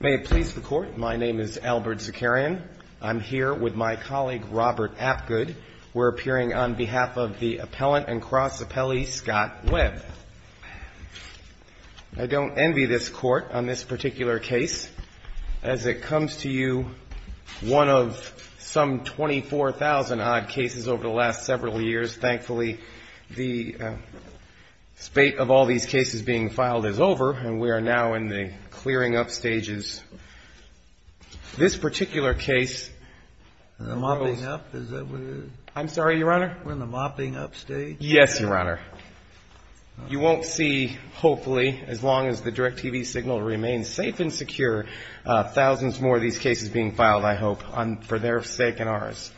May it please the Court, my name is Albert Zakarian. I'm here with my colleague Robert Apgood. We're appearing on behalf of the appellant and cross appellee, Scott Webb. I don't envy this Court on this particular case. As it comes to you, one of some 24,000 odd cases over the last several years. Thankfully, the debate of all these cases being filed is over and we are now in the clearing up stages. This particular case... Mopping up? Is that what it is? I'm sorry, Your Honor? We're in the mopping up stage? Yes, Your Honor. You won't see, hopefully, as long as the DIRECTV signal remains safe and secure, thousands more of these cases being filed, I hope, for their sake and ours.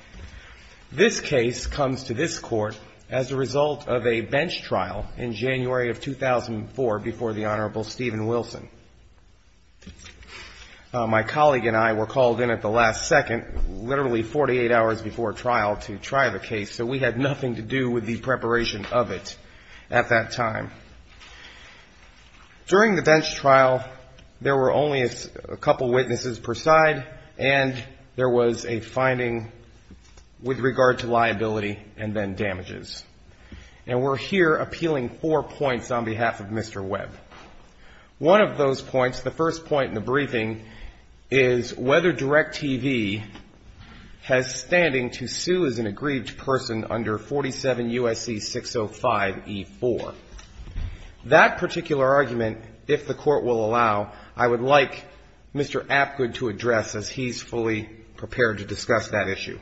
This case comes to this Court as a result of a bench trial in January of 2004 before the Honorable Stephen Wilson. My colleague and I were called in at the last second, literally 48 hours before trial, to try the case, so we had nothing to do with the preparation of it at that time. During the bench trial, there were only a couple witnesses per side and there was a finding with regard to liability and then damages. And we're here appealing four points on behalf of Mr. Webb. One of those points, the first point in the briefing, is whether DIRECTV has standing to sue as an aggrieved person under 47 U.S.C. 605E4. That particular argument, if the Court will allow, I would like Mr. Apgood to address as he's fully prepared to discuss that issue.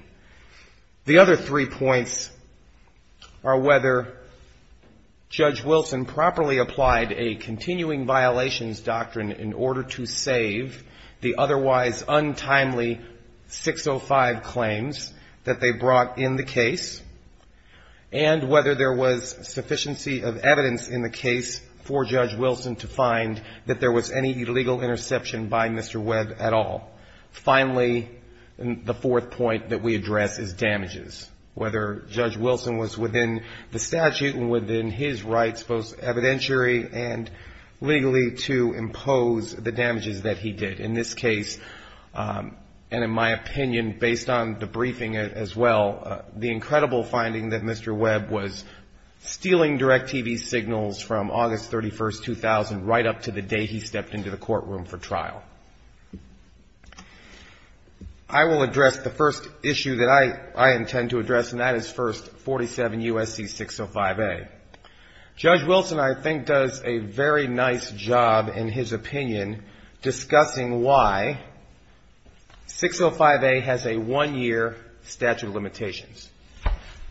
The other three points are whether Judge Wilson properly applied a continuing violations doctrine in order to save the otherwise untimely 605 claims that they brought in the case, and whether there was sufficiency of evidence in the case for Judge Wilson to find that there was any illegal interception by Mr. Webb at all. Finally, the fourth point that we address is damages, whether Judge Wilson was within the statute and within his rights, both evidentiary and legally, to impose the damages that he did. In this case, and in my opinion, based on the briefing as well, the incredible finding that Mr. Webb was stealing DIRECTV signals from August 31, 2000 right up to the day he stepped into the courtroom for trial. I will address the first issue that I intend to address, and that is first, 47 U.S.C. 605A. Judge Wilson, I think, does a very nice job in his opinion discussing why 605A has a one-year statute of limitations.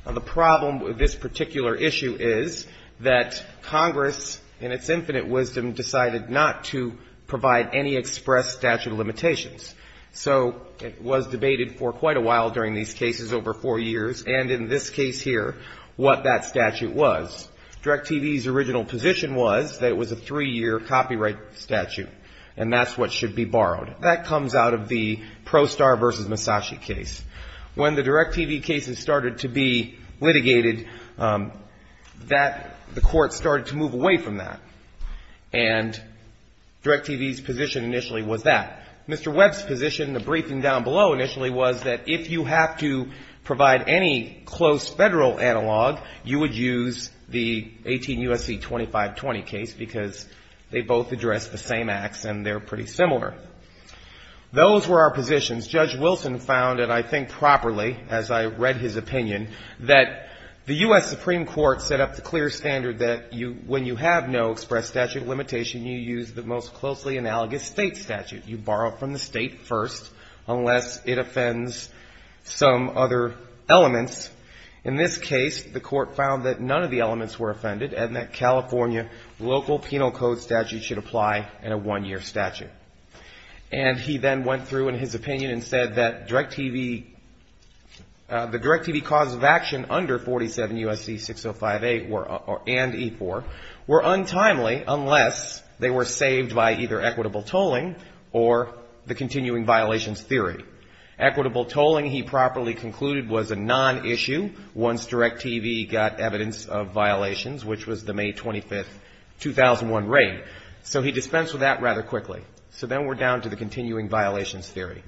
Now, the problem with this particular issue is that Congress, in its infinite wisdom, decided not to provide any express statute of limitations. So it was debated for quite a while during these cases, over four years, and in this case here, what that statute was. DIRECTV's original position was that it was a three-year copyright statute, and that's what should be borrowed. That comes out of the Prostar v. Massachi case. When the DIRECTV case in Massachusetts started to be litigated, that, the court started to move away from that. And DIRECTV's position initially was that. Mr. Webb's position, the briefing down below initially, was that if you have to provide any close federal analog, you would use the 18 U.S.C. 2520 case, because they both address the same acts, and they're pretty similar. Those were our positions. Judge Wilson found, and I think properly, as I read his opinion, that the U.S. Supreme Court set up the clear standard that when you have no express statute of limitation, you use the most closely analogous state statute. You borrow from the state first, unless it offends some other elements. In this case, the court found that none of the elements were offended, and that California local penal code statutes should apply in a one-year statute. And he then went through in his opinion and said that DIRECTV, the DIRECTV cause of action under 47 U.S.C. 6058 and E-4 were untimely, unless they were saved by either equitable tolling or the continuing violations theory. Equitable tolling, he properly concluded, was a non-issue, once DIRECTV got evidence of violations, which was the May 25, 2001 raid. So he dispensed with that rather quickly. So then we're down to the continuing violations theory.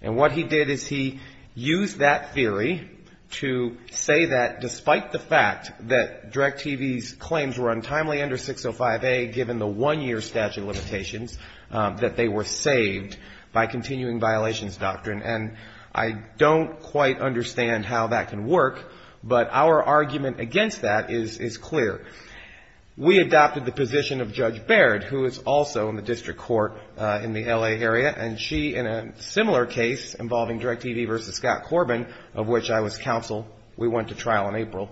And we're down to the 605A. And what he did is he used that theory to say that despite the fact that DIRECTV's claims were untimely under 605A, given the one-year statute of limitations, that they were saved by continuing violations doctrine. And I don't quite understand how that can work, but our argument against that is clear. We adopted the position of Judge Baird, who is also in the district court in the L.A. area, and she, in a similar case, involving DIRECTV versus Scott Corbin, of which I was counsel, we went to trial in April.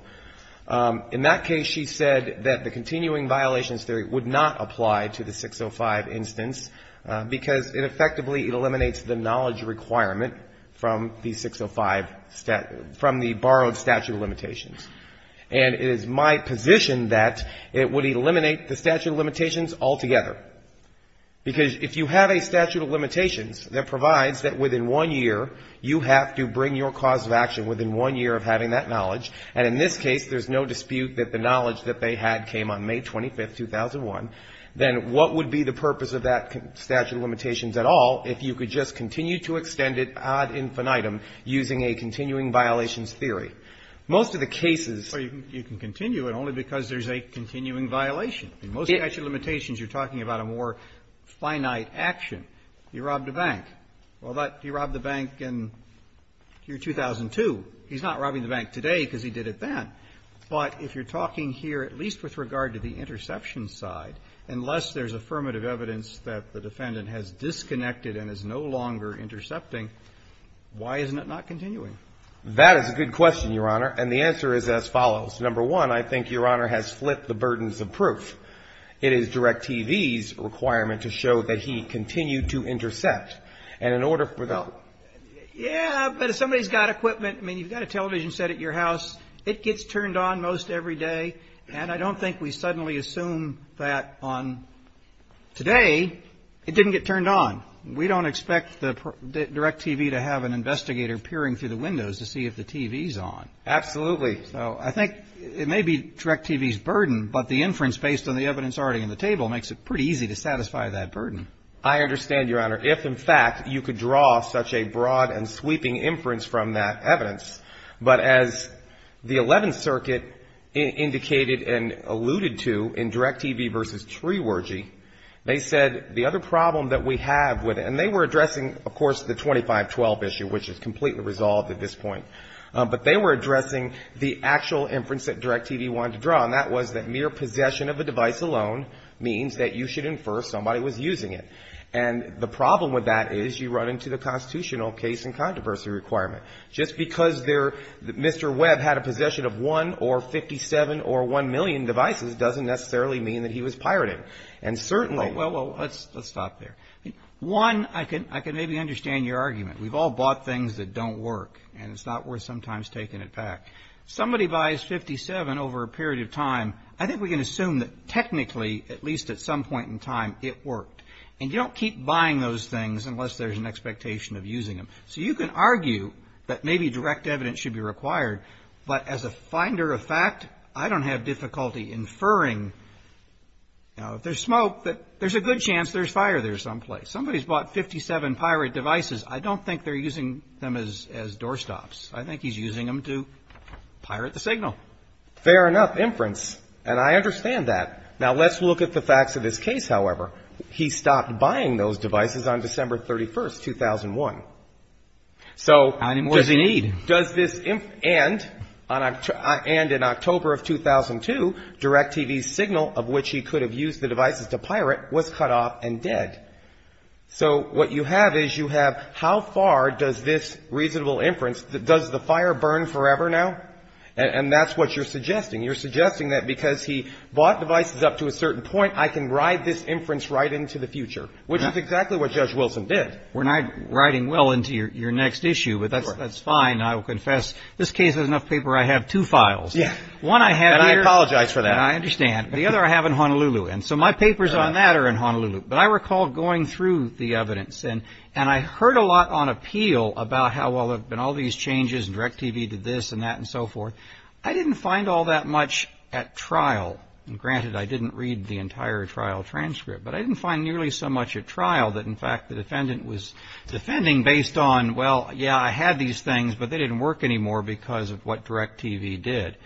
In that case, she said that the continuing violations theory would not apply to the 605 instance, because it effectively eliminates the knowledge requirement from the 605, from the borrowed statute of limitations. And it is my position that it would eliminate the statute of limitations altogether. Because if you have a statute of limitations within one year, you have to bring your cause of action within one year of having that knowledge. And in this case, there's no dispute that the knowledge that they had came on May 25, 2001. Then what would be the purpose of that statute of limitations at all, if you could just continue to extend it ad infinitum using a continuing violations theory? Most of the cases you can continue it only because there's a continuing violation. In most statute of limitations, you're talking about a more finite action. You robbed a bank. Well, if you robbed a bank, you could have robbed a bank in year 2002. He's not robbing the bank today, because he did it then. But if you're talking here, at least with regard to the interception side, unless there's affirmative evidence that the defendant has disconnected and is no longer intercepting, why isn't it not continuing? That is a good question, Your Honor. And the answer is as follows. Number one, I think Your Honor has flipped the burdens of proof. It is DIRECTV's requirement to show that he continued to intercept. And in order for the, in order for the, in order for the, in order for the defendant to continue to intercept, you have to show that he continued to intercept. And in order for the defendant to continue to intercept, you have to show that he continued to intercept. And in order for the defendant to continue to intercept, you have to show that he continued to intercept. Yeah, but if somebody's got equipment, I mean, you've got a television set at your house. It gets turned on most every day. And I don't think we suddenly assume that on today, it didn't get turned on. We don't expect the DIRECTV to have an investigator peering through the windows to see if the TV's on. And we've seen a lot of fraud and sweeping inference from that evidence. But as the Eleventh Circuit indicated and alluded to in DIRECTV versus TreeWergy, they said the other problem that we have with it, and they were addressing, of course, the 2512 issue, which is completely resolved at this point. But they were addressing the actual inference that DIRECTV wanted to draw, and that was that mere possession of a device alone means that you should infer somebody was using it. And the problem with that is you run into the constitutional cases, and you're facing controversy requirement. Just because they're Mr. Webb had a possession of one or 57 or one million devices doesn't necessarily mean that he was pirating. And certainly... Well, let's stop there. One, I can maybe understand your argument. We've all bought things that don't work, and it's not worth sometimes taking it back. Somebody buys 57 over a period of time, I think we can assume that technically, at least at some point in time, it worked. And you don't keep buying those things unless there's an expectation of using them. So you can argue that maybe direct evidence should be required, but as a finder of fact, I don't have difficulty inferring, you know, if there's smoke, that there's a good chance there's fire there someplace. Somebody's bought 57 pirate devices. I don't think they're using them as doorstops. I think he's using them to pirate the signal. Fair enough. Inference. And I understand that. Now, let's look at the facts of this case, however. He stopped buying those devices on December 31, 2001. So... And in October of 2002, DirecTV's signal, of which he could have used the devices to pirate, was cut off and dead. So what you have is you have how far does this reasonable inference, does the fire burn forever now? And that's what you're arguing. That's what you're suggesting. You're suggesting that because he bought devices up to a certain point, I can ride this inference right into the future, which is exactly what Judge Wilson did. We're not riding well into your next issue, but that's fine. I will confess this case has enough paper. I have two files. And I apologize for that. And I understand. The other I have in Honolulu. And so my papers on that are in Honolulu. But I recall going through the evidence, and I didn't find all that much at trial. And granted, I didn't read the entire trial transcript. But I didn't find nearly so much at trial that, in fact, the defendant was defending based on, well, yeah, I had these things, but they didn't work anymore because of what DirecTV did.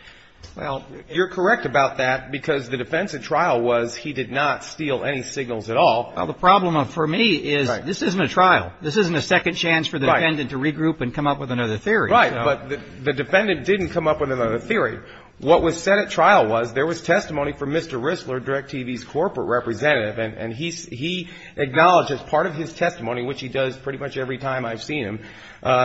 Well, you're correct about that, because the defense at trial was he did not steal any signals at all. Well, the problem for me is this isn't a trial. This isn't a second chance for the defendant to regroup and come up with another theory. Right. But the defendant didn't come up with another theory. What was said at trial was there was testimony from Mr. Risler, DirecTV's corporate representative, and he acknowledged as part of his testimony, which he does pretty much every time I've seen him,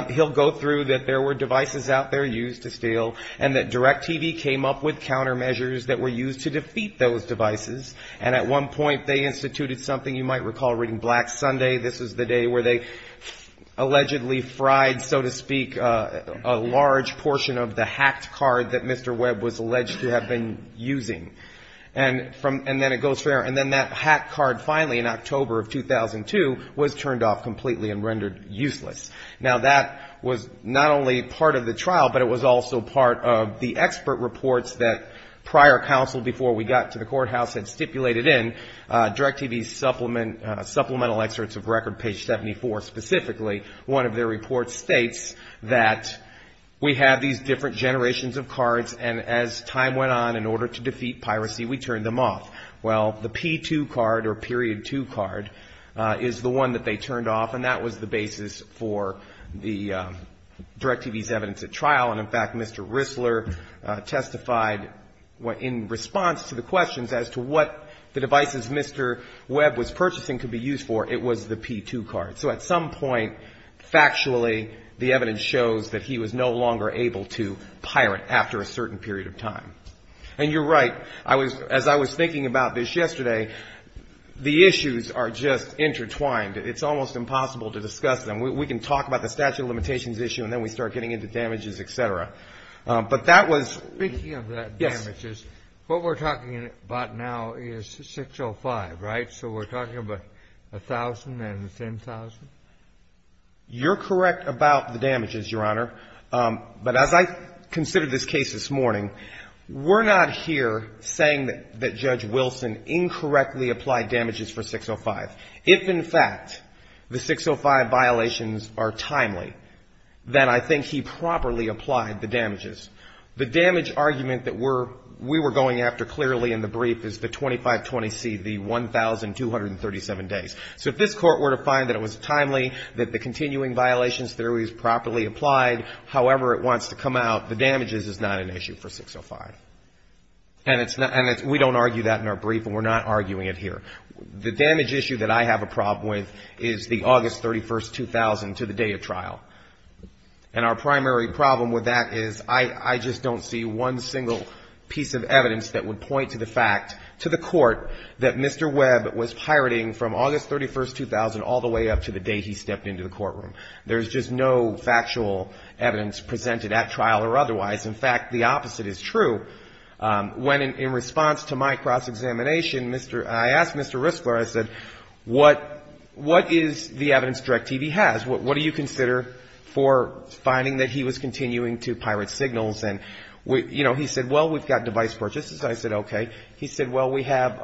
he'll go through that there were devices out there used to steal and that DirecTV came up with countermeasures that were used to defeat those devices. And at one point, they instituted something you might recall reading Black Sunday. This is the day where they allegedly fried, so to speak, a large portion of the hacked card that Mr. Webb was alleged to have been using. And then it goes from there. And then that hacked card finally in October of 2002 was turned off completely and rendered useless. Now, that was not only part of the trial, but it was also part of the expert reports that prior counsel before we got to the courthouse had stipulated in DirecTV's supplemental excerpts of record, page 74 specifically, one of their reports states that we have these different generations of cards, and as time went on, in order to defeat piracy, we turned them off. Well, the P2 card or period two card is the one that they turned off, and that was the basis for the DirecTV's evidence at trial. And in fact, Mr. Rissler testified in response to the questions as to what the devices Mr. Webb was purchasing could be used for. It was the P2 card. So at some point, factually, the evidence shows that he was no longer able to pirate after a certain period of time. And you're right, as I was thinking about this yesterday, the issues are just intertwined. It's almost impossible to discuss them. We can talk about the statute of limitations issue and then we start getting into damages, et cetera. But that was... Speaking of the damages, what we're talking about now is 605, right? So we're talking about a thousand and a ten thousand? You're correct about the damages, Your Honor. But as I considered this case this morning, we're not here saying that Judge Wilson incorrectly applied damages for 605. If, in fact, the 605 violations are timely, then I think he properly applied them. The damage argument that we were going after clearly in the brief is the 2520C, the 1,237 days. So if this Court were to find that it was timely, that the continuing violations theory is properly applied, however it wants to come out, the damages is not an issue for 605. And we don't argue that in our brief, and we're not arguing it here. The damage issue that I have a problem with is the August 31, 2000, to the day of trial. And our primary problem with that is I just don't see one single piece of evidence that would point to the fact, to the Court, that Mr. Webb was pirating from August 31, 2000 all the way up to the day he stepped into the courtroom. There's just no factual evidence presented at trial or otherwise. In fact, the opposite is true. When in response to my cross-examination, I asked Mr. Rissler, I said, what is the evidence DirecTV has? What do you consider for finding that he was continuing to pirate signals? And he said, well, we've got device purchases. I said, okay. He said, well, we have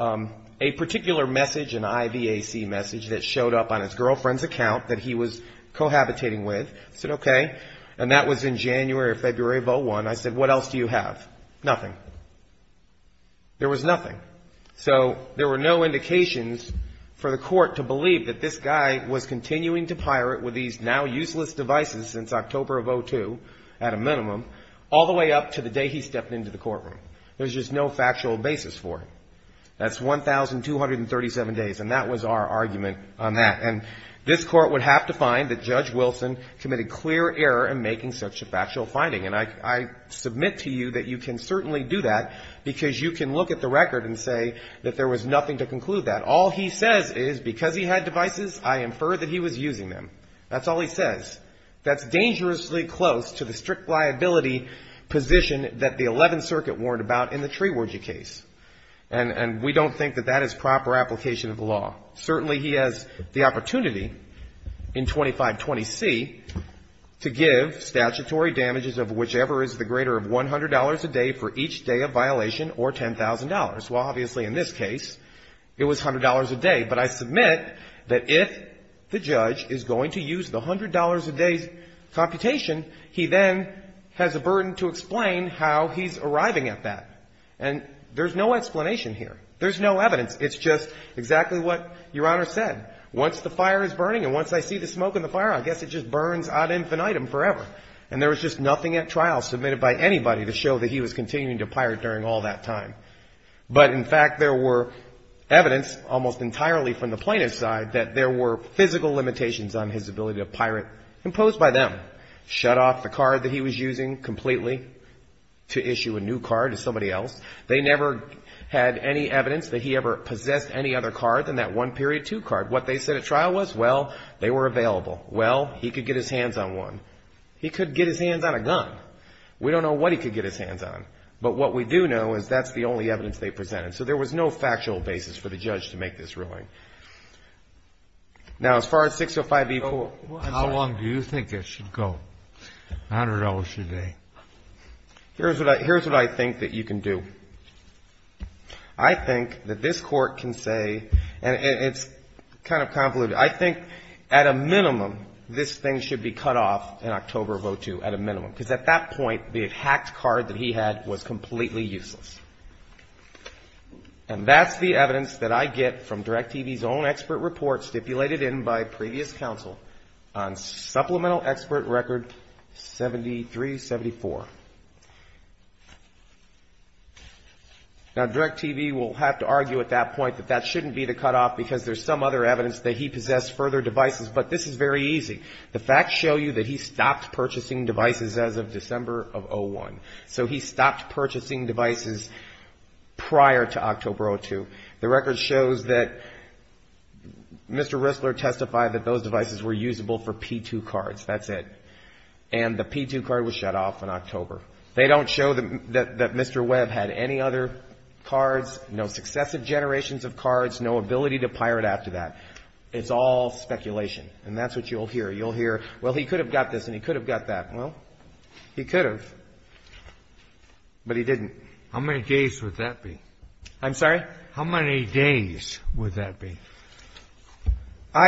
a particular message, an IVAC message that showed up on his girlfriend's account that he was cohabitating with. I said, okay. And that was in January or February of 2001. I said, what else do you have? Nothing. There was nothing. So there were no indications for the Court to believe that this guy was continuing to pirate with these now useless devices since October of 2002, at a minimum, all the way up to the day he stepped into the courtroom. There's just no factual basis for it. That's 1,237 days. And that was our argument on that. And this Court would have to find that Judge Wilson committed clear error in making such a factual finding. And I submit to you that you can certainly do that because you can look at the record and say that there was nothing to conclude that. But all he says is because he had devices, I infer that he was using them. That's all he says. That's dangerously close to the strict liability position that the Eleventh Circuit warned about in the Trewergy case. And we don't think that that is proper application of the law. Certainly he has the opportunity in 2520C to give statutory damages of whichever is the greater of $100 a day for each day of violation or $10,000. Well, obviously, in this case, it was $100 a day. But I submit that if the judge is going to use the $100 a day computation, he then has a burden to explain how he's arriving at that. And there's no explanation here. There's no evidence. It's just exactly what Your Honor said. Once the fire is burning and once I see the smoke in the fire, I guess it just burns ad infinitum forever. And there was just nothing at trial submitted by anybody to show that he was continuing to pirate during all that time. But, in fact, there were evidence almost entirely from the plaintiff's side that there were physical limitations on his ability to pirate imposed by them. Shut off the card that he was using completely to issue a new card to somebody else. They never had any evidence that he ever possessed any other card than that 1.2 card. What they said at trial was, well, they were available. Well, he could get his hands on one. He could get his hands on a gun. We don't know what he could get his hands on, but what we do know is that's the only evidence they presented. So there was no factual basis for the judge to make this ruling. Now, as far as 605B4... How long do you think it should go, $100 a day? Here's what I think that you can do. I think that this Court can say, and it's kind of convoluted, I think, at a minimum, this thing should be cut off in October of 2002, at a minimum. Because at that point, the hacked card that he had was completely useless. And that's the evidence that I get from DirecTV's own expert report stipulated in by previous counsel on Supplemental Expert Record 7374. Now, DirecTV will have to argue at that point that that shouldn't be the cutoff for him to access further devices, but this is very easy. The facts show you that he stopped purchasing devices as of December of 2001. So he stopped purchasing devices prior to October of 2002. The record shows that Mr. Rissler testified that those devices were usable for P2 cards. That's it. And the P2 card was shut off in October. They don't show that Mr. Webb had any other cards, no successive generations of cards, no ability to pirate after that. It's all speculation. And that's what you'll hear. You'll hear, well, he could have got this and he could have got that. Well, he could have, but he didn't. How many days would that be? I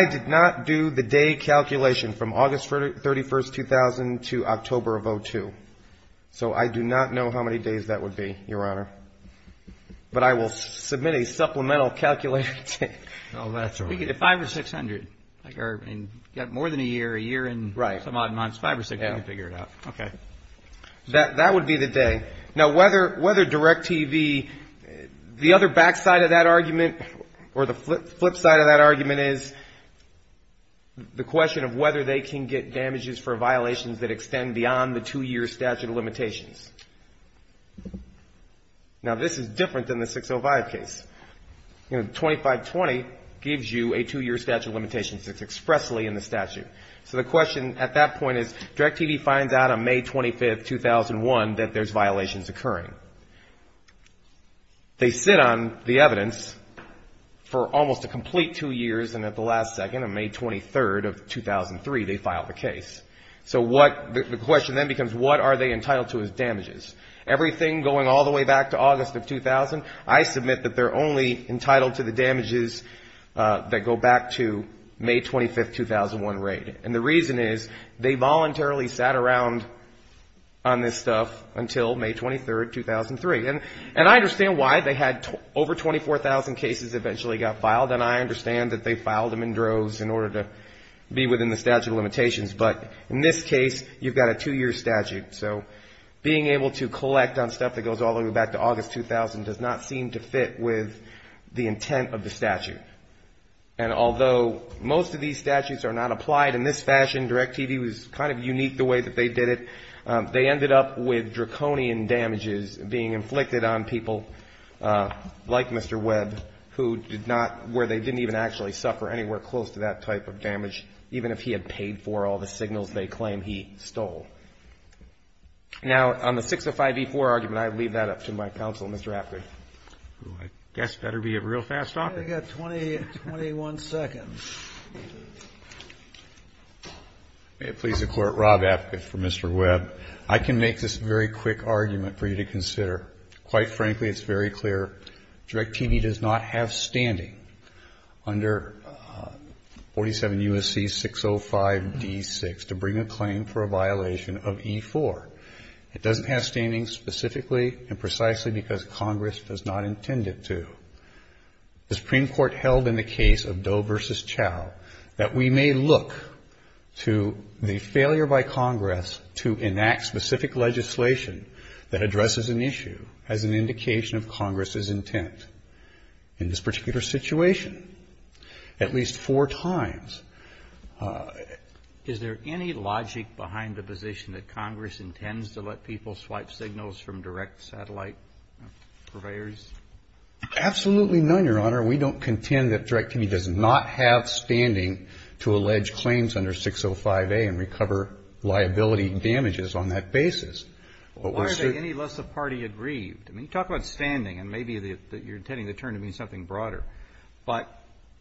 did not do the day calculation from August 31st, 2000 to October of 2002. So I do not know how many days that would be, Your Honor. But I will submit a supplemental calculation. We could get five or six hundred. Got more than a year, a year and some odd months, five or six, we can figure it out. That would be the day. Now, whether DirecTV, the other back side of that argument or the flip side of that argument is the question of whether they can get damages for violations that extend beyond the two-year statute of limitations. Now, this is different than the 605 case. 2520 gives you a two-year statute of limitations. It's expressly in the statute. So the question at that point is, DirecTV finds out on May 25th, 2001 that there's violations occurring. They sit on the evidence for almost a complete two years, and at the last second, on May 23rd of 2003, they file the case. So the question then becomes, what are they entitled to as damages? Everything going all the way back to August of 2000, I submit that they're only entitled to the damages that go back to May 25th, 2001 rate. And the reason is they voluntarily sat around on this stuff until May 23rd, 2003. And I understand why they had over 24,000 cases eventually got filed, and I understand that they filed them in droves in order to be within the statute of limitations, but in this case, you've got a two-year statute. So being able to collect on stuff that goes all the way back to August 2000 does not seem to fit with the intent of the statute. And although most of these statutes are not applied in this fashion, DirecTV was kind of unique the way that they did it. They ended up with draconian damages being inflicted on people like Mr. Webb, who did not, where they didn't even actually suffer anywhere close to that type of damage, even if he had paid for all the signals they claim he stole. Now, on the 605E4 argument, I leave that up to my counsel, Mr. Apker. I guess better be a real fast talker. I've got 20, 21 seconds. May it please the Court, Rob Apkith for Mr. Webb. I can make this very quick argument for you to consider. Quite frankly, it's very clear. DirecTV does not have standing under 47 U.S.C. 605D6 to bring a claim for a violation of E4. It doesn't have standing specifically and precisely because Congress does not intend it to. The Supreme Court held in the case of Doe v. Chau that we may look to the failure by Congress to enact specific legislation that addresses an issue as an indication of Congress's intent. In this particular situation, at least four times... Is there any logic behind the position that Congress intends to let people swipe signals from direct satellite purveyors? Absolutely none, Your Honor. We don't contend that DirecTV does not have standing to allege claims under 605A and recover liability damages on that basis. Why are they any less a party aggrieved? I mean, talk about standing, and maybe you're intending to turn to me something broader. But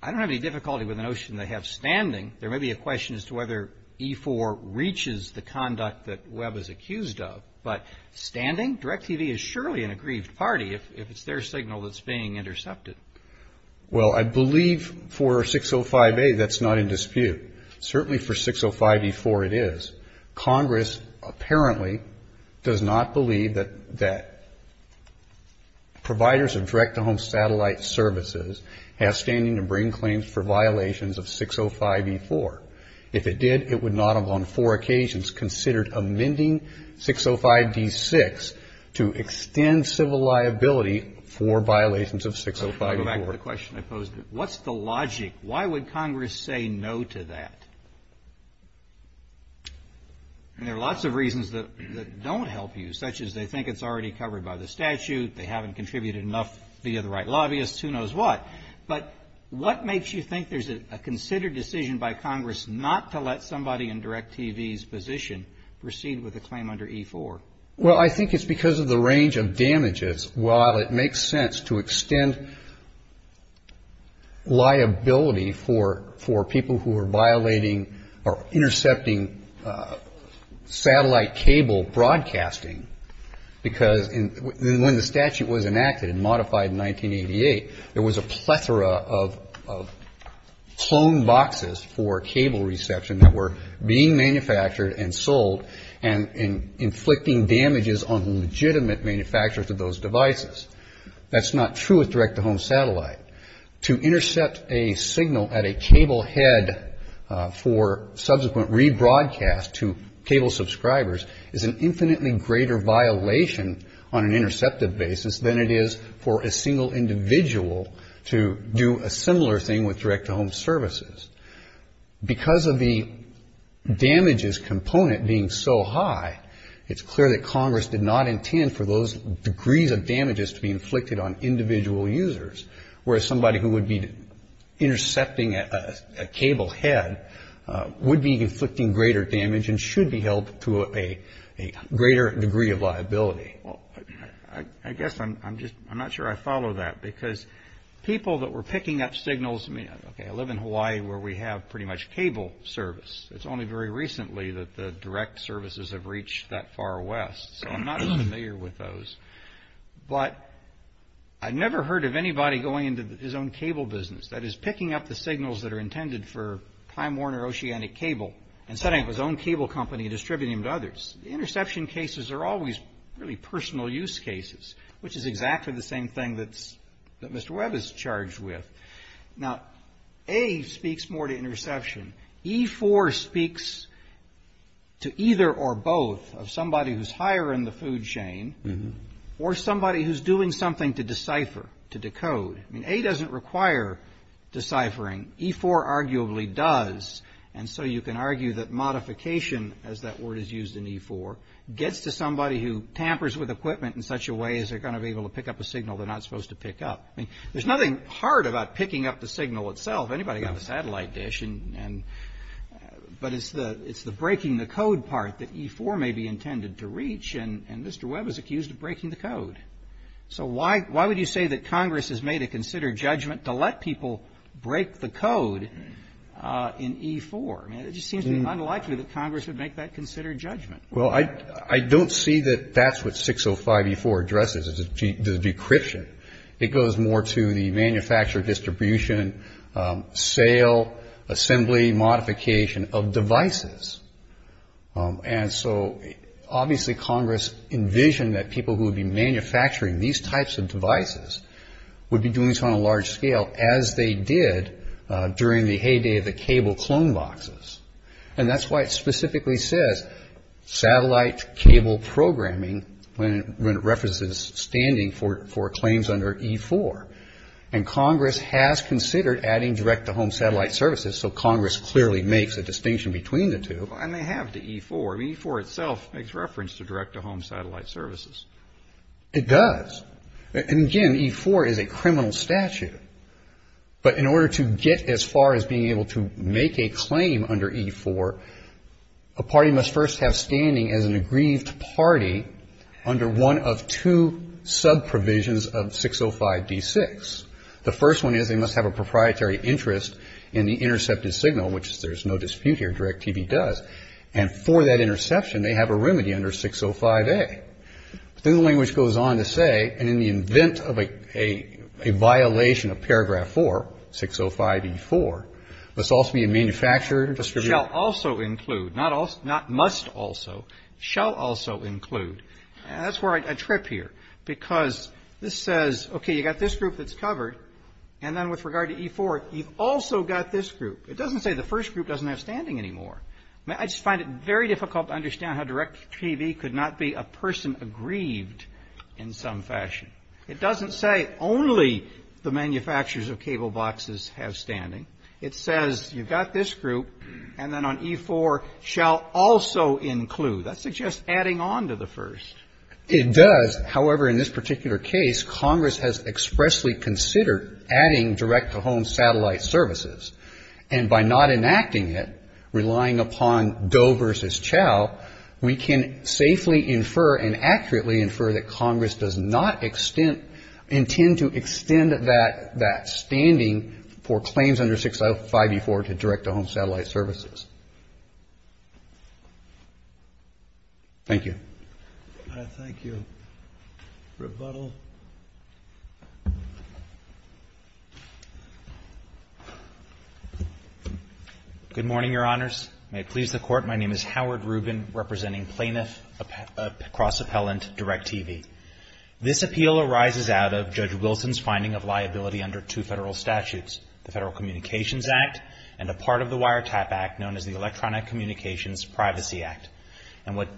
I don't have any difficulty with the notion they have standing. There may be a question as to whether E4 reaches the conduct that Webb is accused of, but standing, DirecTV is surely an aggrieved party if it's their signal that's being intercepted. Well, I believe for 605A that's not in dispute. Certainly for 605E4 it is. Congress apparently does not believe that providers of direct-to-home satellite services have standing to bring claims for violations of 605E4. If it did, it would not have on four occasions considered amending 605D6 to extend civil liability for violations of 605E4. I'll go back to the question I posed. What's the logic? Why would Congress say no to that? And there are lots of reasons that don't help you, such as they think it's already covered by the statute, they haven't contributed enough via the right lobbyists, who knows what. But what makes you think there's a considered decision by Congress not to let somebody in DirecTV's position proceed with a claim under E4? Well, I think it's because of the range of damages, while it makes sense to extend liability for people who are violating or intercepting cable broadcasting, because when the statute was enacted and modified in 1988, there was a plethora of cloned boxes for cable reception that were being manufactured and sold and inflicting damages on legitimate manufacturers of those devices. That's not true with direct-to-home satellite. To intercept a signal at a cable head for subsequent rebroadcast to cable subscribers is an infinitely greater violation on an interceptive basis than it is for a single individual to do a similar thing with direct-to-home services. Because of the damages component being so high, it's clear that Congress did not intend for those degrees of damages to be inflicted on a single individual, and therefore, somebody who would be intercepting a cable head would be inflicting greater damage and should be held to a greater degree of liability. Well, I guess I'm not sure I follow that, because people that were picking up signals, I mean, okay, I live in Hawaii where we have pretty much cable service. It's only very recently that the direct services have reached that far west. So I'm not as familiar with those, but I've never heard of anybody going into his own cable business, that is, picking up the signals that are intended for Pine Warner Oceanic Cable and setting up his own cable company and distributing them to others. The interception cases are always really personal use cases, which is exactly the same thing that Mr. Webb is charged with. E4 speaks to either or both of somebody who's higher in the food chain or somebody who's doing something to decipher, to decode. I mean, A doesn't require deciphering. E4 arguably does, and so you can argue that modification, as that word is used in E4, gets to somebody who tampers with equipment in such a way as they're going to be able to pick up a signal they're not supposed to pick up. I mean, there's nothing hard about picking up the signal itself. Anybody got a satellite dish, but it's the breaking the code part that E4 may be intended to reach, and Mr. Webb is accused of breaking the code. So why would you say that Congress has made a considered judgment to let people break the code in E4? I mean, it just seems unlikely that Congress would make that considered judgment. Well, I don't see that that's what 605E4 addresses as a decryption. It goes more to the manufacture, distribution, sale, assembly, modification of devices. And so obviously Congress envisioned that people who would be manufacturing these types of devices would be doing this on a large scale, as they did during the heyday of the cable clone boxes. And that's why it specifically says satellite cable programming when it references standing for claims under E4. And Congress has considered adding direct-to-home satellite services, so Congress clearly makes a distinction between the two. And they have to E4. I mean, E4 itself makes reference to direct-to-home satellite services. It does. And again, E4 is a criminal statute, but in order to get as far as being able to make a claim under E4, a party must first have standing as an aggrieved party under one of two sub-provisions of 605D6. The first one is they must have a proprietary interest in the intercepted signal, which there's no dispute here, DirecTV does. And for that interception, they have a remedy under 605A. But then the language goes on to say, and in the event of a violation of paragraph 4, 605E4, must also be a manufacturer, distributor. Not must also, shall also include. And that's where I trip here, because this says, okay, you've got this group that's covered, and then with regard to E4, you've also got this group that's covered, and then with regard to E4, you've also got this group that's covered. And so the first group doesn't have standing anymore. I just find it very difficult to understand how DirecTV could not be a person aggrieved in some fashion. It doesn't say only the manufacturers of cable boxes have standing. It says you've got this group, and then on E4, shall also include. That suggests adding on to the first. It does, however, in this particular case, Congress has expressly considered adding direct-to-home satellite services. And by not enacting it, relying upon Doe versus Chow, we can safely infer and accurately infer that Congress does not intend to extend that standing for claims under 605E4 to direct-to-home satellite services. Thank you. Good morning, Your Honors. May it please the Court, my name is Howard Rubin, representing Plaintiff Cross-Appellant DirecTV. This appeal arises out of Judge Wilson's finding of liability under two federal statutes, the Federal Communications Act and a part of the Federal Communications Act. And what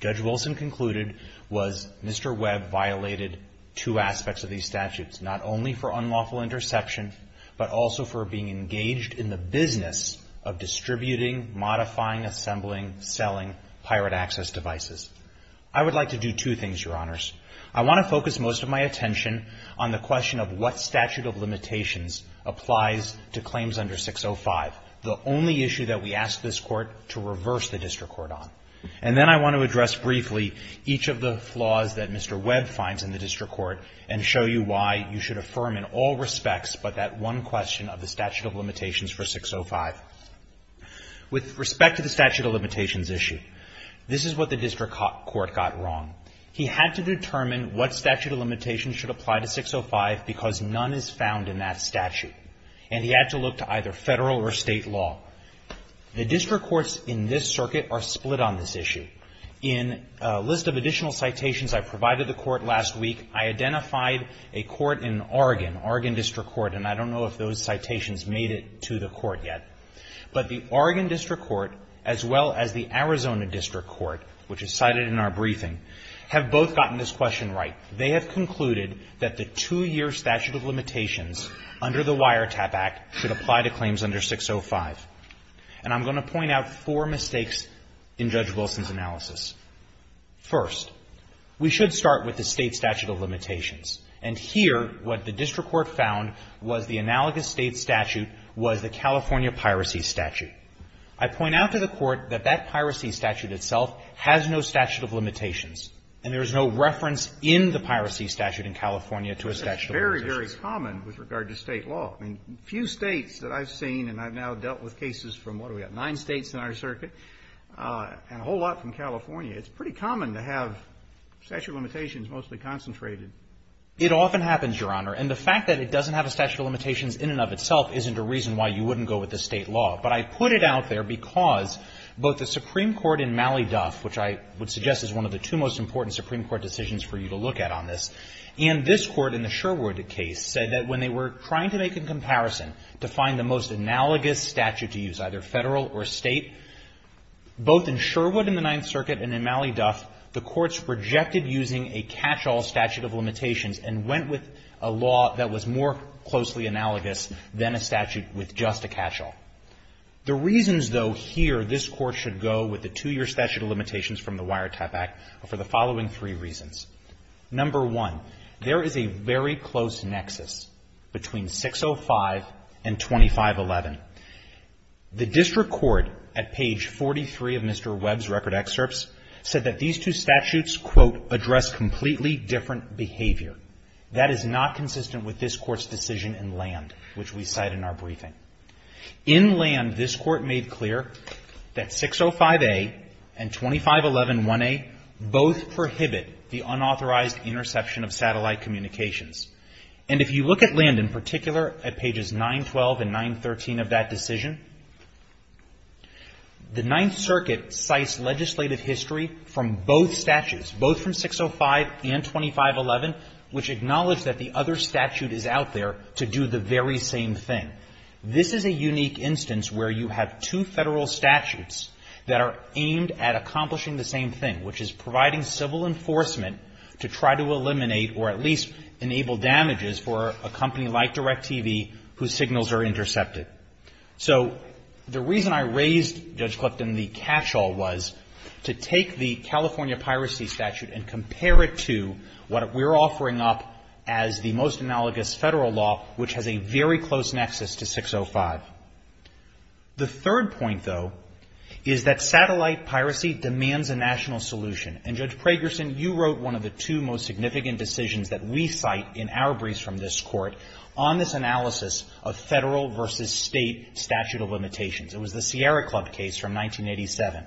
Judge Wilson concluded was Mr. Webb violated two aspects of these statutes, not only for unlawful interception, but also for being engaged in the business of distributing, modifying, assembling, selling pirate access devices. I would like to do two things, Your Honors. I want to focus most of my attention on the question of what statute of limitations applies to claims under 605, the only issue that we ask this Court to reverse the district court on. And then I want to address briefly each of the flaws that Mr. Webb finds in the district court and show you why you should affirm in all respects but that one question of the statute of limitations for 605. With respect to the statute of limitations issue, this is what the district court got wrong. He had to determine what statute of limitations should apply to 605 because none is found in that statute. And he had to look to either federal or state law. The district courts in this circuit are split on this issue. In a list of additional citations I provided the Court last week, I identified a court in Oregon, Oregon District Court, and I don't know if those citations made it to the Court yet. But the Oregon District Court as well as the Arizona District Court, which is cited in our briefing, have both gotten this question right. They have concluded that the two-year statute of limitations under the Wiretap Act should apply to claims under 605. And I'm going to point out four mistakes in Judge Wilson's analysis. First, we should start with the state statute of limitations. And here what the district court found was the analogous state statute was the California piracy statute. I point out to the Court that that piracy statute itself has no statute of limitations. And there is no reference in the piracy statute in California to a statute of limitations. But it's very, very common with regard to state law. I mean, few states that I've seen, and I've now dealt with cases from, what do we have, nine states in our circuit, and a whole lot from California, it's pretty common to have statute of limitations mostly concentrated. It often happens, Your Honor. And the fact that it doesn't have a statute of limitations in and of itself isn't a reason why you should go with the two-year statute of limitations under the Wiretap Act. It's one of the most important Supreme Court decisions for you to look at on this. And this Court, in the Sherwood case, said that when they were trying to make a comparison to find the most analogous statute to use, either federal or state, both in Sherwood in the Ninth Circuit and in Mally Duff, the courts rejected using a catch-all statute of limitations and went with a law that was more closely analogous than a statute with just a catch-all. And that's for the following three reasons. Number one, there is a very close nexus between 605 and 2511. The district court at page 43 of Mr. Webb's record excerpts said that these two statutes, quote, address completely different behavior. That is not consistent with this Court's decision in land, which we cite in our briefing. In land, this Court made clear that 605A and 25111A both prohibit the unauthorized interception of satellite communications. And if you look at land in particular, at pages 912 and 913 of that decision, the Ninth Circuit cites legislative history from both statutes, both from 605 and 2511, which acknowledge that the other statute is out there to do the very same thing. This is a unique instance where you have two Federal statutes that are aimed at accomplishing the same thing, which is providing civil enforcement to try to eliminate or at least enable damages for a company like DirecTV whose signals are intercepted. So the reason I raised, Judge Clifton, the catch-all was to take the California piracy statute and compare it to what we're offering up as the most analogous Federal law, which has a very close nexus to 605. The third point, though, is that satellite piracy demands a national solution. And, Judge Pragerson, you wrote one of the two most significant decisions that we cite in our briefs from this Court on this analysis of Federal versus State statute of limitations. It was the Sierra Club case from 1987.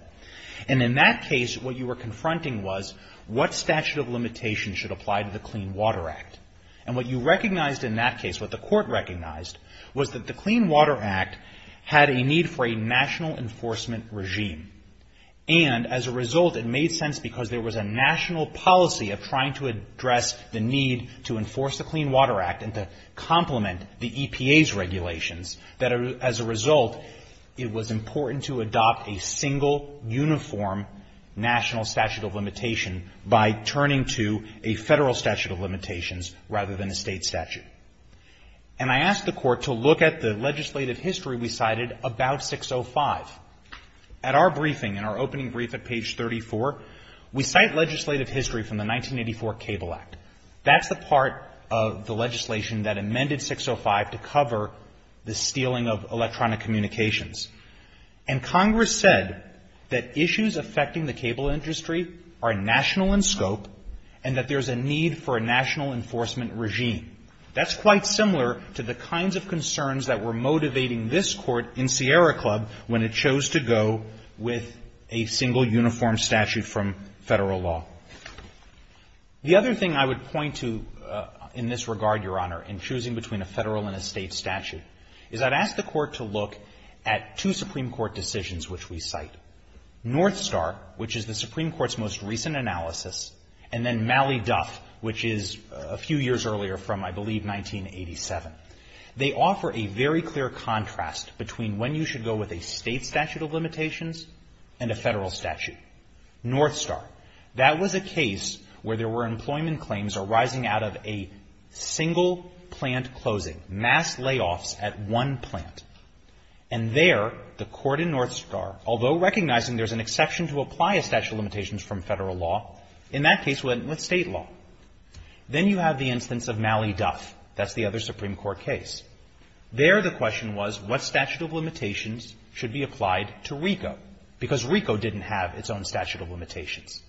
And in that case, what you were confronting was what statute of limitations meant for the Clean Water Act. And what you recognized in that case, what the Court recognized, was that the Clean Water Act had a need for a national enforcement regime. And, as a result, it made sense because there was a national policy of trying to address the need to enforce the Clean Water Act and to complement the EPA's regulations that, as a result, it was important to adopt a single, uniform national statute of limitation by turning to a Federal statute of limitations. And I asked the Court to look at the legislative history we cited about 605. At our briefing, in our opening brief at page 34, we cite legislative history from the 1984 Cable Act. That's the part of the legislation that amended 605 to cover the stealing of electronic communications. And Congress said that issues affecting the cable industry are national in scope and that there's a need for a national enforcement regime. That's quite similar to the kinds of concerns that were motivating this Court in Sierra Club when it chose to go with a single, uniform statute from Federal law. The other thing I would point to in this regard, Your Honor, in choosing between a Federal and a State statute, is I'd ask the Court to look at two Supreme Court decisions which we cite. North Star, which is the Supreme Court's most recent analysis, and then Duff, which is a few years earlier from, I believe, 1987. They offer a very clear contrast between when you should go with a State statute of limitations and a Federal statute. North Star. That was a case where there were employment claims arising out of a single plant closing, mass layoffs at one plant. And there, the Court in North Star, although recognizing there's an interstate law, then you have the instance of Malley-Duff. That's the other Supreme Court case. There, the question was, what statute of limitations should be applied to RICO? Because RICO didn't have its own statute of limitations.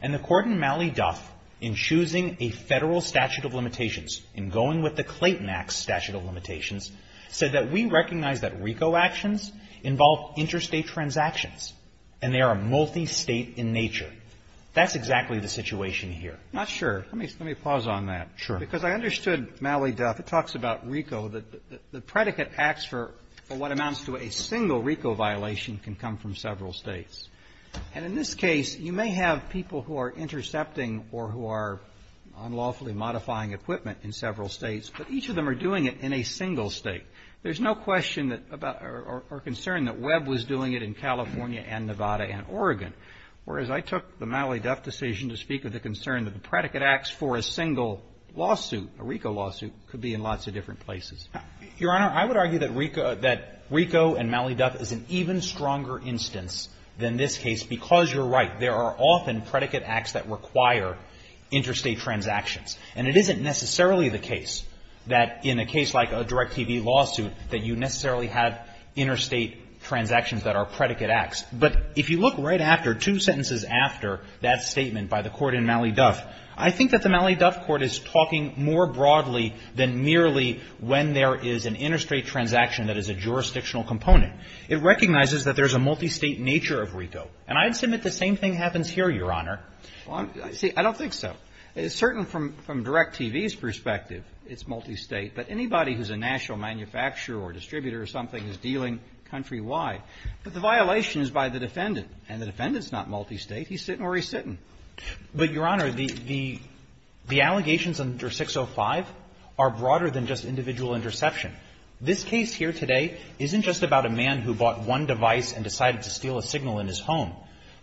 And the Court in Malley-Duff, in choosing a Federal statute of limitations, in going with the Clayton Act statute of limitations, said that we recognize that RICO actions involve interstate transactions, and they are multistate in nature. That's exactly the situation here. Not sure. Let me pause on that. Because I understood Malley-Duff. It talks about RICO. The predicate acts for what amounts to a single RICO violation can come from several States. And in this case, you may have people who are intercepting or who are unlawfully modifying equipment in several States, but each of them are doing it in a single State. There's no question or concern that Webb was doing it in California and Nevada and Oregon. Whereas I took the Malley-Duff decision to speak of the concern that the predicate acts for a single lawsuit, a RICO lawsuit, could be in lots of different places. Your Honor, I would argue that RICO and Malley-Duff is an even stronger instance than this case, because you're right. There are often predicate acts that require interstate transactions. And it isn't necessarily the case that in a case like a DirecTV lawsuit that you necessarily have interstate transactions that are predicate acts. But if you look right after, two sentences after that statement by the court in Malley-Duff, I think that the Malley-Duff court is talking more broadly than merely when there is an interstate transaction that is a jurisdictional component. It recognizes that there's a multistate nature of RICO. And I'd submit the same thing happens here, Your Honor. See, I don't think so. It's certain from DirecTV's perspective, it's multistate. But anybody who's a national manufacturer or distributor or something is dealing countrywide. But the violation is by the defendant. And the defendant's not multistate. He's sitting where he's sitting. But, Your Honor, the allegations under 605 are broader than just individual interception. This case here today isn't just about a man who bought one device and decided to steal a signal in his home.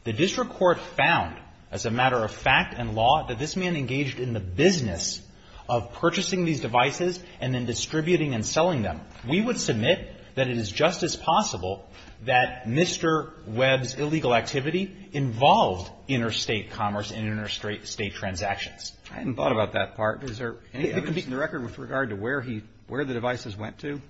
The district court found, as a matter of fact and law, that this man engaged in the business of purchasing these devices and then distributing and selling them. We would submit that it is just as possible that Mr. Webb's illegal activity involves the purchase of one device. It involves interstate commerce and interstate transactions. I hadn't thought about that part. Is there any evidence in the record with regard to where he, where the devices went to?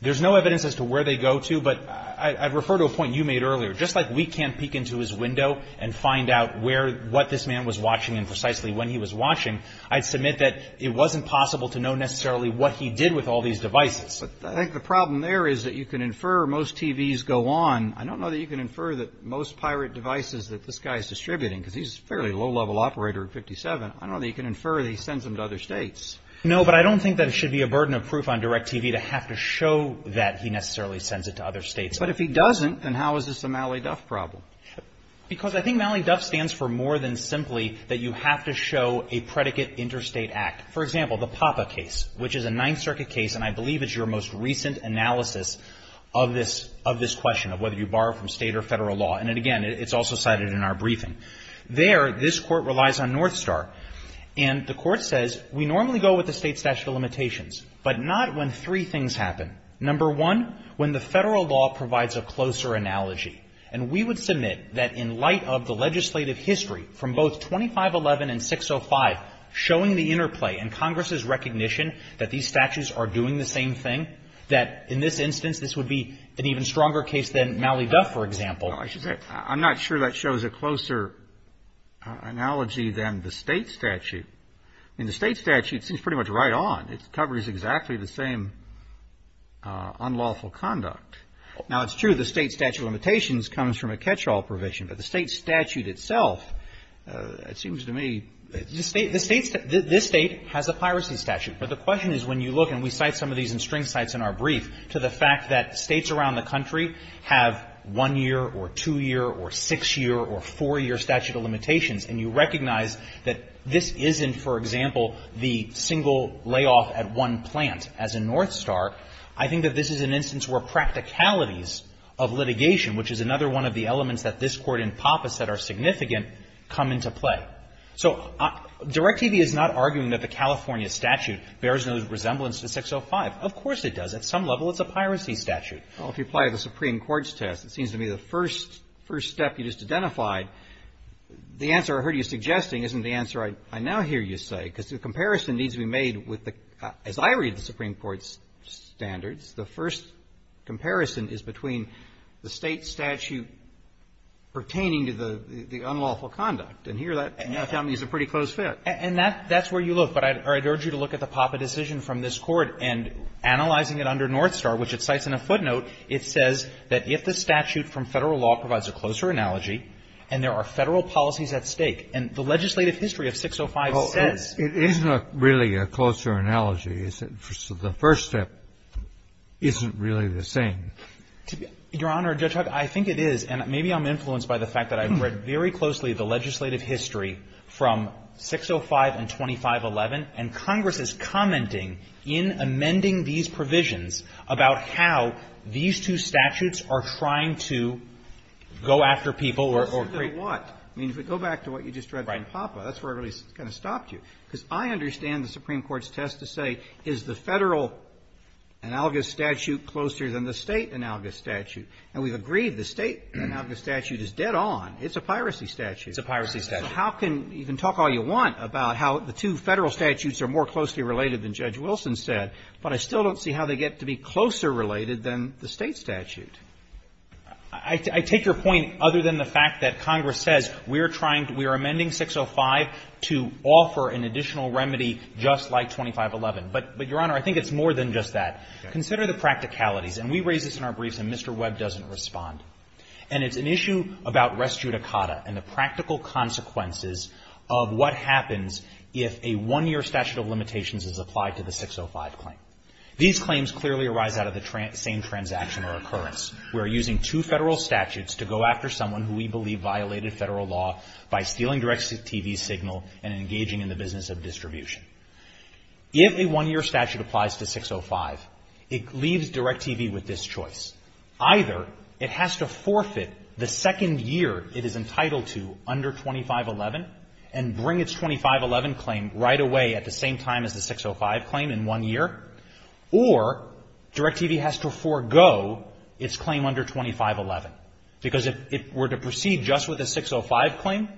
There's no evidence as to where they go to. But I'd refer to a point you made earlier. Just like we can't peek into his window and find out where, what this man was watching and precisely when he was watching, I'd submit that it wasn't possible to know necessarily what he did with all these devices. But I think the problem there is that you can infer most TVs go on. I don't know that you can infer that most pirate devices that this guy is distributing, because he's a fairly low-level operator at 57, I don't know that you can infer that he sends them to other states. No, but I don't think that it should be a burden of proof on DirecTV to have to show that he necessarily sends it to other states. But if he doesn't, then how is this a Mally Duff problem? Because I think Mally Duff stands for more than simply that you have to show a predicate interstate act. For example, the PAPA case, which is a Ninth Circuit case, and I believe it's your most recent analysis of this question, of whether you borrow from state or federal law. And again, it's also cited in our briefing. There, this Court relies on North Star, and the Court says, we normally go with the state statute of limitations, but not when three things happen. And I would submit that in light of the legislative history, from both 2511 and 605, showing the interplay, and Congress's recognition that these statutes are doing the same thing, that in this instance, this would be an even stronger case than Mally Duff, for example. No, I should say, I'm not sure that shows a closer analogy than the state statute. I mean, the state statute seems pretty much right on. It covers exactly the same unlawful conduct. Now, it's true the state statute of limitations comes from a catch-all provision, but the state statute itself, it seems to me, the state, this state has a piracy statute. But the question is, when you look, and we cite some of these in string cites in our brief, to the fact that states around the country have one-year or two-year or six-year or four-year statute of limitations, and you recognize that this isn't, for example, the single layoff at one plant as in North Star, I think that this is an instance where practicalities of litigation, which is another one of the elements that this Court in Pappas said are significant, come into play. So DirecTV is not arguing that the California statute bears no resemblance to 605. Of course it does. At some level, it's a piracy statute. Well, if you apply the Supreme Court's test, it seems to me the first step you just identified, the answer I heard you suggesting isn't the answer I now hear you say, because the comparison needs to be made with the, as I read the Supreme Court's standards, the first comparison is between the state statute pertaining to the unlawful conduct. And here that, to me, is a pretty close fit. And that's where you look. But I'd urge you to look at the Pappas decision from this Court. And analyzing it under North Star, which it cites in a footnote, it says that if the statute from Federal law provides a closer analogy, and there are Federal policies at stake, and the legislative history of 605 says. It isn't really a closer analogy. The first step isn't really the same. Your Honor, Judge Huck, I think it is. And maybe I'm influenced by the fact that I've read very closely the legislative history from 605 and 2511, and Congress is commenting in amending these provisions about how these two statutes are trying to go after people or create what? I mean, if we go back to what you just read in Pappa, that's where it really kind of stopped you. Because I understand the Supreme Court's test to say, is the Federal analogous statute closer than the state analogous statute? And we've agreed the state analogous statute is dead on. It's a piracy statute. It's a piracy statute. So how can you even talk all you want about how the two Federal statutes are more closely related than Judge Wilson said? But I still don't see how they get to be closer related than the state statute. I take your point other than the fact that Congress says we're trying to, we're amending 605 to offer an additional remedy just like 2511. But, Your Honor, I think it's more than just that. Consider the practicalities. And we raise this in our briefs, and Mr. Webb doesn't respond. And it's an issue about res judicata and the practical consequences of what happens if a one-year statute of limitations is applied to the 605 claim. These claims clearly arise out of the same transaction or occurrence. We're using two Federal statutes to go after someone who we believe violated Federal law by stealing DirecTV's signal and engaging in the business of distribution. If a one-year statute applies to 605, it leaves DirecTV with this choice. Either it has to forfeit the second year it is entitled to under 2511 and bring its 2511 claim right away at the same time as the 605 claim in one year, or DirecTV has to forego its claim under 2511. Because if it were to proceed just with the 605 claim?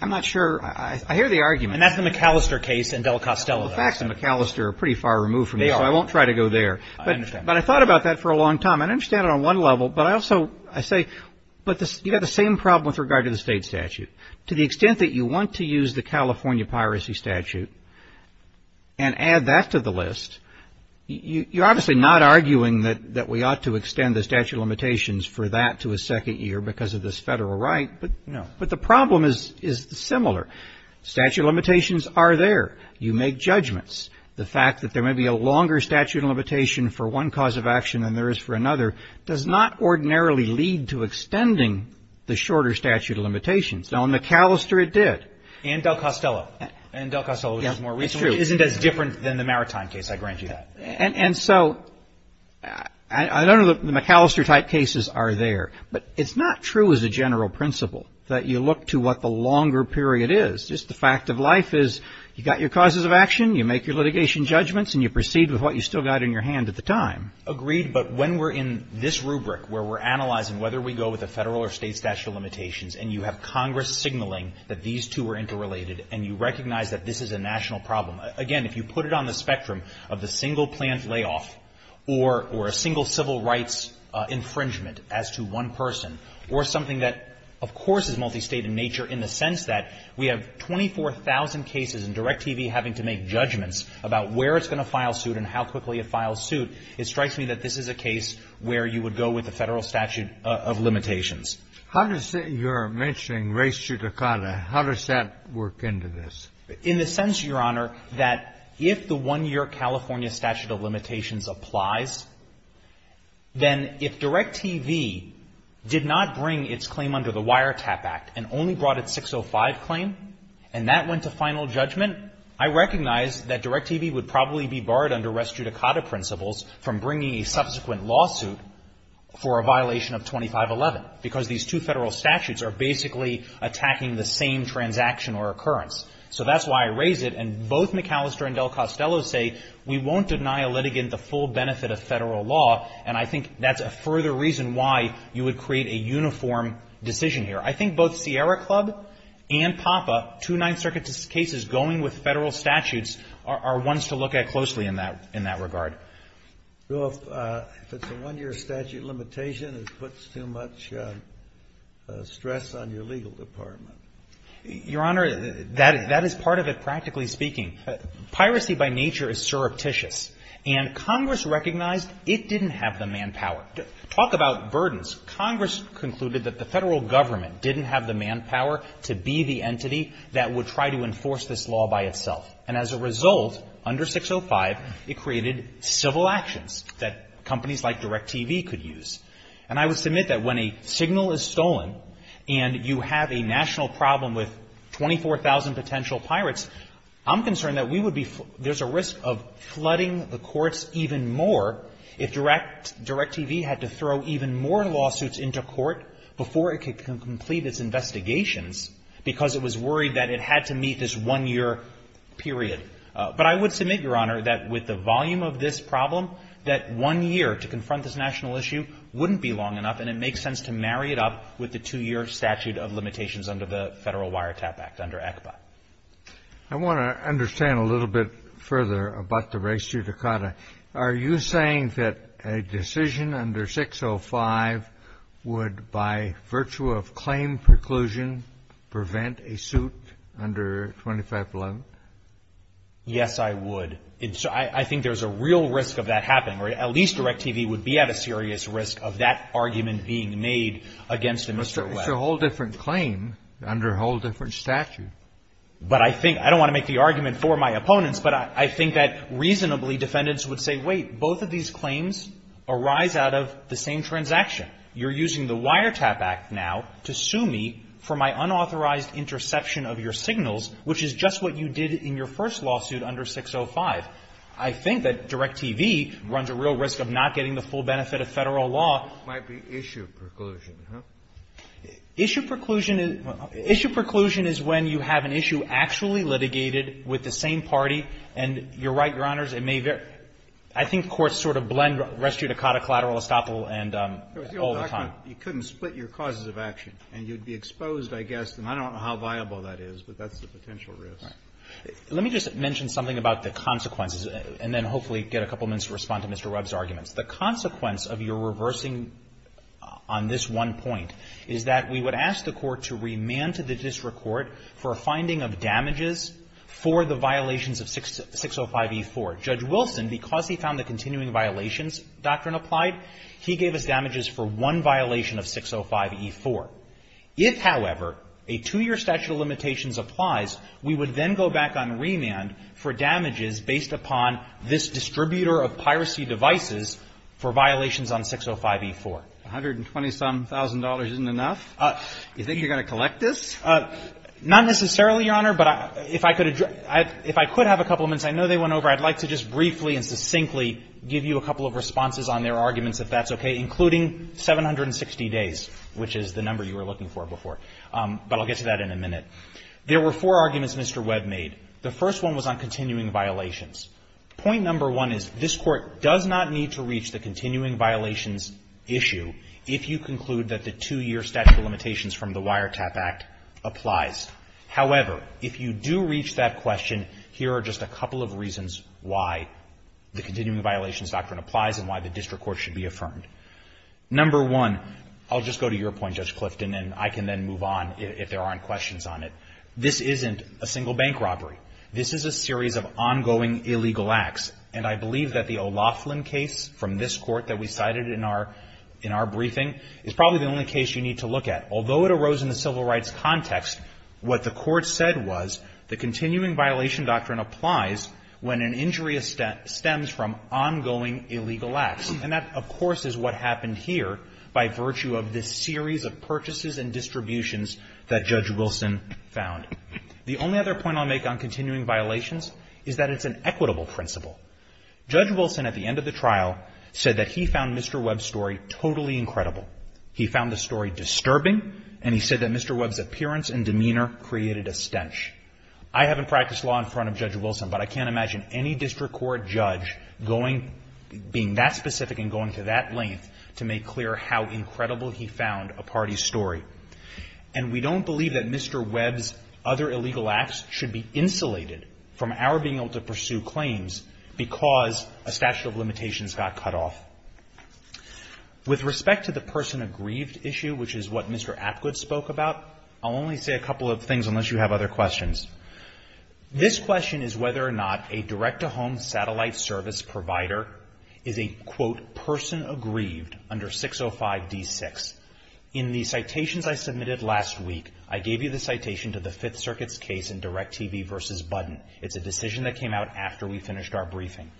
I'm not sure. I hear the argument. And that's the McAllister case and Del Costello. The facts in McAllister are pretty far removed from this. They are. So I won't try to go there. I understand. But I thought about that for a long time. I understand it on one level, but I also, I say, but you've got the same problem with regard to the state statute. To the extent that you want to use the California piracy statute and add that to the list, you're obviously not arguing that we ought to extend the statute of limitations for that to a second year because of this federal right, but no. But the problem is similar. Statute of limitations are there. You make judgments. The fact that there may be a longer statute of limitation for one cause of action than there is for another does not ordinarily lead to extending the shorter statute of limitations. Now, in McAllister it did. And Del Costello. And Del Costello is more recent. Which isn't as different than the Maritime case. I grant you that. And so, I don't know that McAllister type cases are there. But it's not true as a general principle that you look to what the longer period is. Just the fact of life is you've got your causes of action, you make your litigation judgments, and you proceed with what you've still got in your hand at the time. Agreed. But when we're in this rubric where we're analyzing whether we go with a long risk signaling that these two are interrelated and you recognize that this is a national problem. Again, if you put it on the spectrum of the single plant layoff or a single civil rights infringement as to one person or something that, of course, is multi-state in nature in the sense that we have 24,000 cases and DirecTV having to make judgments about where it's going to file suit and how quickly it files suit, it strikes me that this is a case where you would go with the federal statute of limitations. You're mentioning res judicata. How does that work into this? In the sense, Your Honor, that if the one-year California statute of limitations applies, then if DirecTV did not bring its claim under the Wiretap Act and only brought its 605 claim and that went to final judgment, I recognize that DirecTV would probably be barred under res judicata principles from bringing a subsequent lawsuit for a violation of 2511 because these two federal statutes are basically attacking the same transaction or occurrence. So that's why I raise it and both McAllister and DelCostello say we won't deny a litigant the full benefit of federal law and I think that's a further reason why you would create a uniform decision here. I think both Sierra Club and PAPA, two Ninth Circuit cases going with federal statutes, are ones to look at closely in that regard. Well, if it's a one-year statute of limitation, it puts too much stress on your legal department. Your Honor, that is part of it, practically speaking. Piracy by nature is surreptitious and Congress recognized it didn't have the manpower. Talk about burdens. Congress concluded that the federal government didn't have the manpower to be the entity that would try to enforce this law by itself. And as a result, under 605, it created civil actions that companies like DirecTV could use. And I would submit that when a signal is stolen and you have a national problem with 24,000 potential pirates, I'm concerned that we would be, there's a risk of flooding the courts even more if DirecTV had to throw even more lawsuits into court before it could complete its investigations because it was worried that it had to be a one-year period. But I would submit, Your Honor, that with the volume of this problem, that one year to confront this national issue wouldn't be long enough and it makes sense to marry it up with the two-year statute of limitations under the Federal Wiretap Act under ECBA. I want to understand a little bit further about the res judicata. Are you saying that a decision under 605 would, by virtue of claim preclusion, prevent a suit under 2511? Yes, I would. I think there's a real risk of that happening. At least DirecTV would be at a serious risk of that argument being made against Mr. Webb. It's a whole different claim under a whole different statute. But I think, I don't want to make the argument for my opponents, but I think that reasonably, defendants would say, wait, both of these claims arise out of the same transaction. You're using the Wiretap Act now to sue me for my unauthorized interception of your signals, which is just what you did in your first lawsuit under 605. I think that DirecTV runs a real risk of not getting the full benefit of Federal law. Might be issue preclusion, huh? Issue preclusion is when you have an issue actually litigated with the same party and you're right, Your Honors, it may very, I think courts sort of blend res judicata, collateral, estoppel, and. All the time. You couldn't split your causes of action and you'd be exposed, I guess, and I don't know how viable that is, but that's the potential risk. Let me just mention something about the consequences and then hopefully get a couple minutes to respond to Mr. Webb's arguments. The consequence of your reversing on this one point is that we would ask the court to remand to the district court for a finding of damages for the violations of 605E4. Judge Wilson, because he found the continuing violations doctrine applied, he gave us damages for one violation of 605E4. If, however, a two-year statute of limitations applies, we would then go back on remand for damages based upon this distributor of piracy devices for violations on 605E4. $120,000-some isn't enough? You think you're going to collect this? Not necessarily, Your Honor, but if I could have a couple minutes. I know they went over. I'd like to just briefly and succinctly give you a couple of responses on their requests, okay, including 760 days, which is the number you were looking for before. But I'll get to that in a minute. There were four arguments Mr. Webb made. The first one was on continuing violations. Point number one is this court does not need to reach the continuing violations issue if you conclude that the two-year statute of limitations from the Wiretap Act applies. However, if you do reach that question, here are just a couple of reasons why the statute of limitations applies. Number one, I'll just go to your point, Judge Clifton, and I can then move on if there aren't questions on it. This isn't a single bank robbery. This is a series of ongoing illegal acts, and I believe that the O'Loughlin case from this court that we cited in our briefing is probably the only case you need to look at. Although it arose in the civil rights context, what the court said was the continuing violation doctrine applies when an injury stems from ongoing illegal acts, and that of course is what happened here by virtue of this series of purchases and distributions that Judge Wilson found. The only other point I'll make on continuing violations is that it's an equitable principle. Judge Wilson at the end of the trial said that he found Mr. Webb's story totally incredible. He found the story disturbing, and he said that Mr. Webb's appearance and demeanor created a stench. I haven't practiced law in front of Judge Wilson, but I can't imagine any district court judge being that specific and going to that length to make clear how incredible he found a party's story. And we don't believe that Mr. Webb's other illegal acts should be insulated from our being able to pursue claims because a statute of limitations got cut off. With respect to the person aggrieved issue, which is what Mr. Apgood spoke about, I'll only say a couple of things unless you have other questions. This question is whether or not a direct-to-home satellite service provider is a, quote, person aggrieved under 605 D6. In the citations I submitted last week, I gave you the citation to the Fifth Circuit's case in DirecTV v. Budden. It's a decision that came out after we finished our briefing.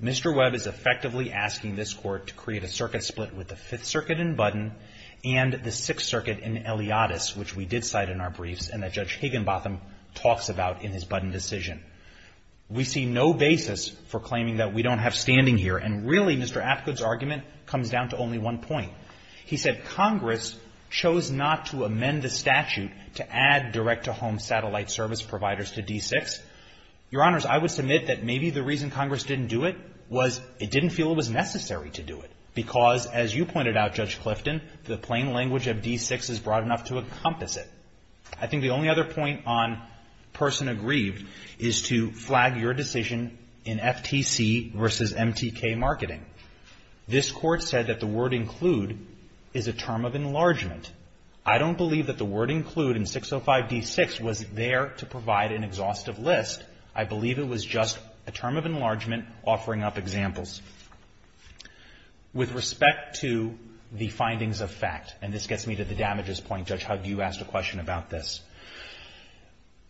Mr. Webb is effectively asking this court to create a circuit split with the Fifth Circuit in Budden and the Sixth Circuit in Eliottis, which we did cite in our brief. We see no basis for claiming that we don't have standing here. And really, Mr. Apgood's argument comes down to only one point. He said Congress chose not to amend the statute to add direct-to-home satellite service providers to D6. Your Honors, I would submit that maybe the reason Congress didn't do it was it didn't feel it was necessary to do it because, as you pointed out, Judge Hugg, a person aggrieved is to flag your decision in FTC v. MTK Marketing. This Court said that the word include is a term of enlargement. I don't believe that the word include in 605 D6 was there to provide an exhaustive list. I believe it was just a term of enlargement offering up examples. With respect to the findings of fact, and this gets me to the damages point, Judge Hugg, you asked a question about this.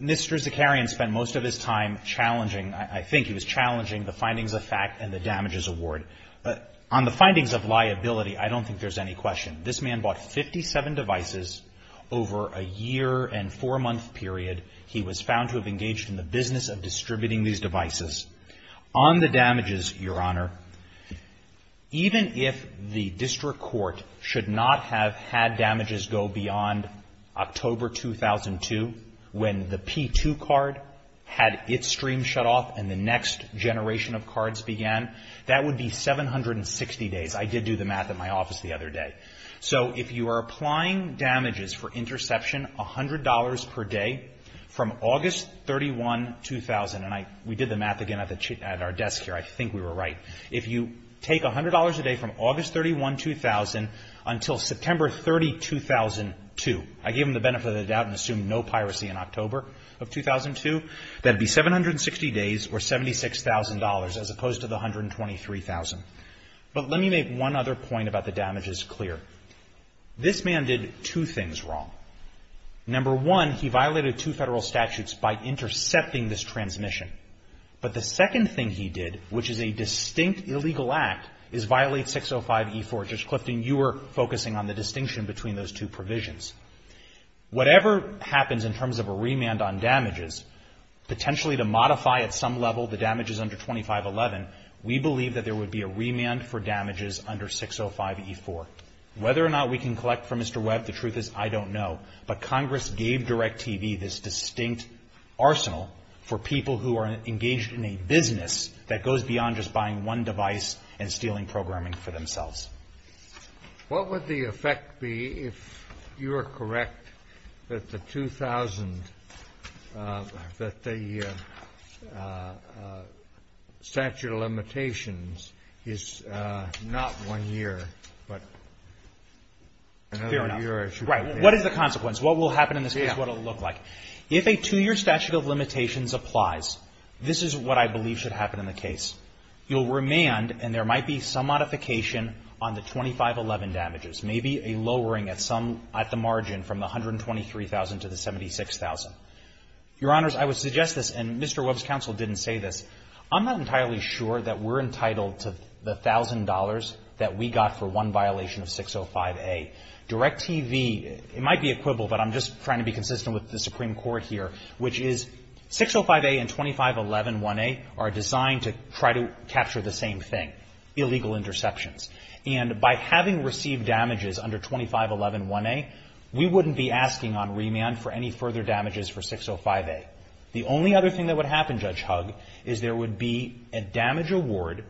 Mr. Zakarian spent most of his time challenging I think he was challenging the findings of fact and the damages award. On the findings of liability, I don't think there's any question. This man bought 57 devices over a year and four-month period. He was found to have engaged in the business of distributing these devices. On the damages, Your Honor, even if the District Court should not have had damages go beyond October 2002 when the P2 card had its stream shut off and the next generation of cards began, that would be 760 days. I did do the math at my office the other day. If you are applying damages for interception $100 per day from August 31, 2000 and we did the math again at our desk here, I think we were right. If you take $100 a day from August 31, 2000 until September 30, 2002, I gave him the benefit of the doubt and assumed no piracy in October of 2002, that would be 760 days or $76,000 as opposed to the $123,000. But let me make one other point about the damages clear. This man did two things wrong. Number one, he violated two federal statutes by intercepting this transmission. But the second thing he did which is a distinct illegal act is violate 605E4. Judge Clifton, you were focusing on the distinction between those two provisions. Whatever happens in terms of a remand on damages, potentially to modify at some level the damages under 2511, we believe that there would be a remand for damages under 605E4. Whether or not we can collect from Mr. Webb, the truth is I don't know. But Congress gave DirecTV this distinct arsenal for people who are engaged in a business that goes beyond just buying one device and What would the effect be if you are correct that the 2000, that the statute of limitations is not one year, but another year. Fair enough. Right. What is the consequence? What will happen in this case? What will it look like? If a two-year statute of limitations applies, this is what I believe should happen in the case. You'll remand and there might be some modification on the 2511 damages, maybe a lowering at some, at the margin from the $123,000 to the $76,000. Your Honors, I would suggest this, and Mr. Webb's counsel didn't say this, I'm not entirely sure that we're entitled to the $1,000 that we got for one violation of 605A. DirecTV, it might be equivalent, but I'm just trying to be consistent with the Supreme Court here, which is 605A and 2511-1A are designed to try to minimize potential interceptions. And by having received damages under 2511-1A, we wouldn't be asking on remand for any further damages for 605A. The only other thing that would happen, Judge Hugg, is there would be a damage award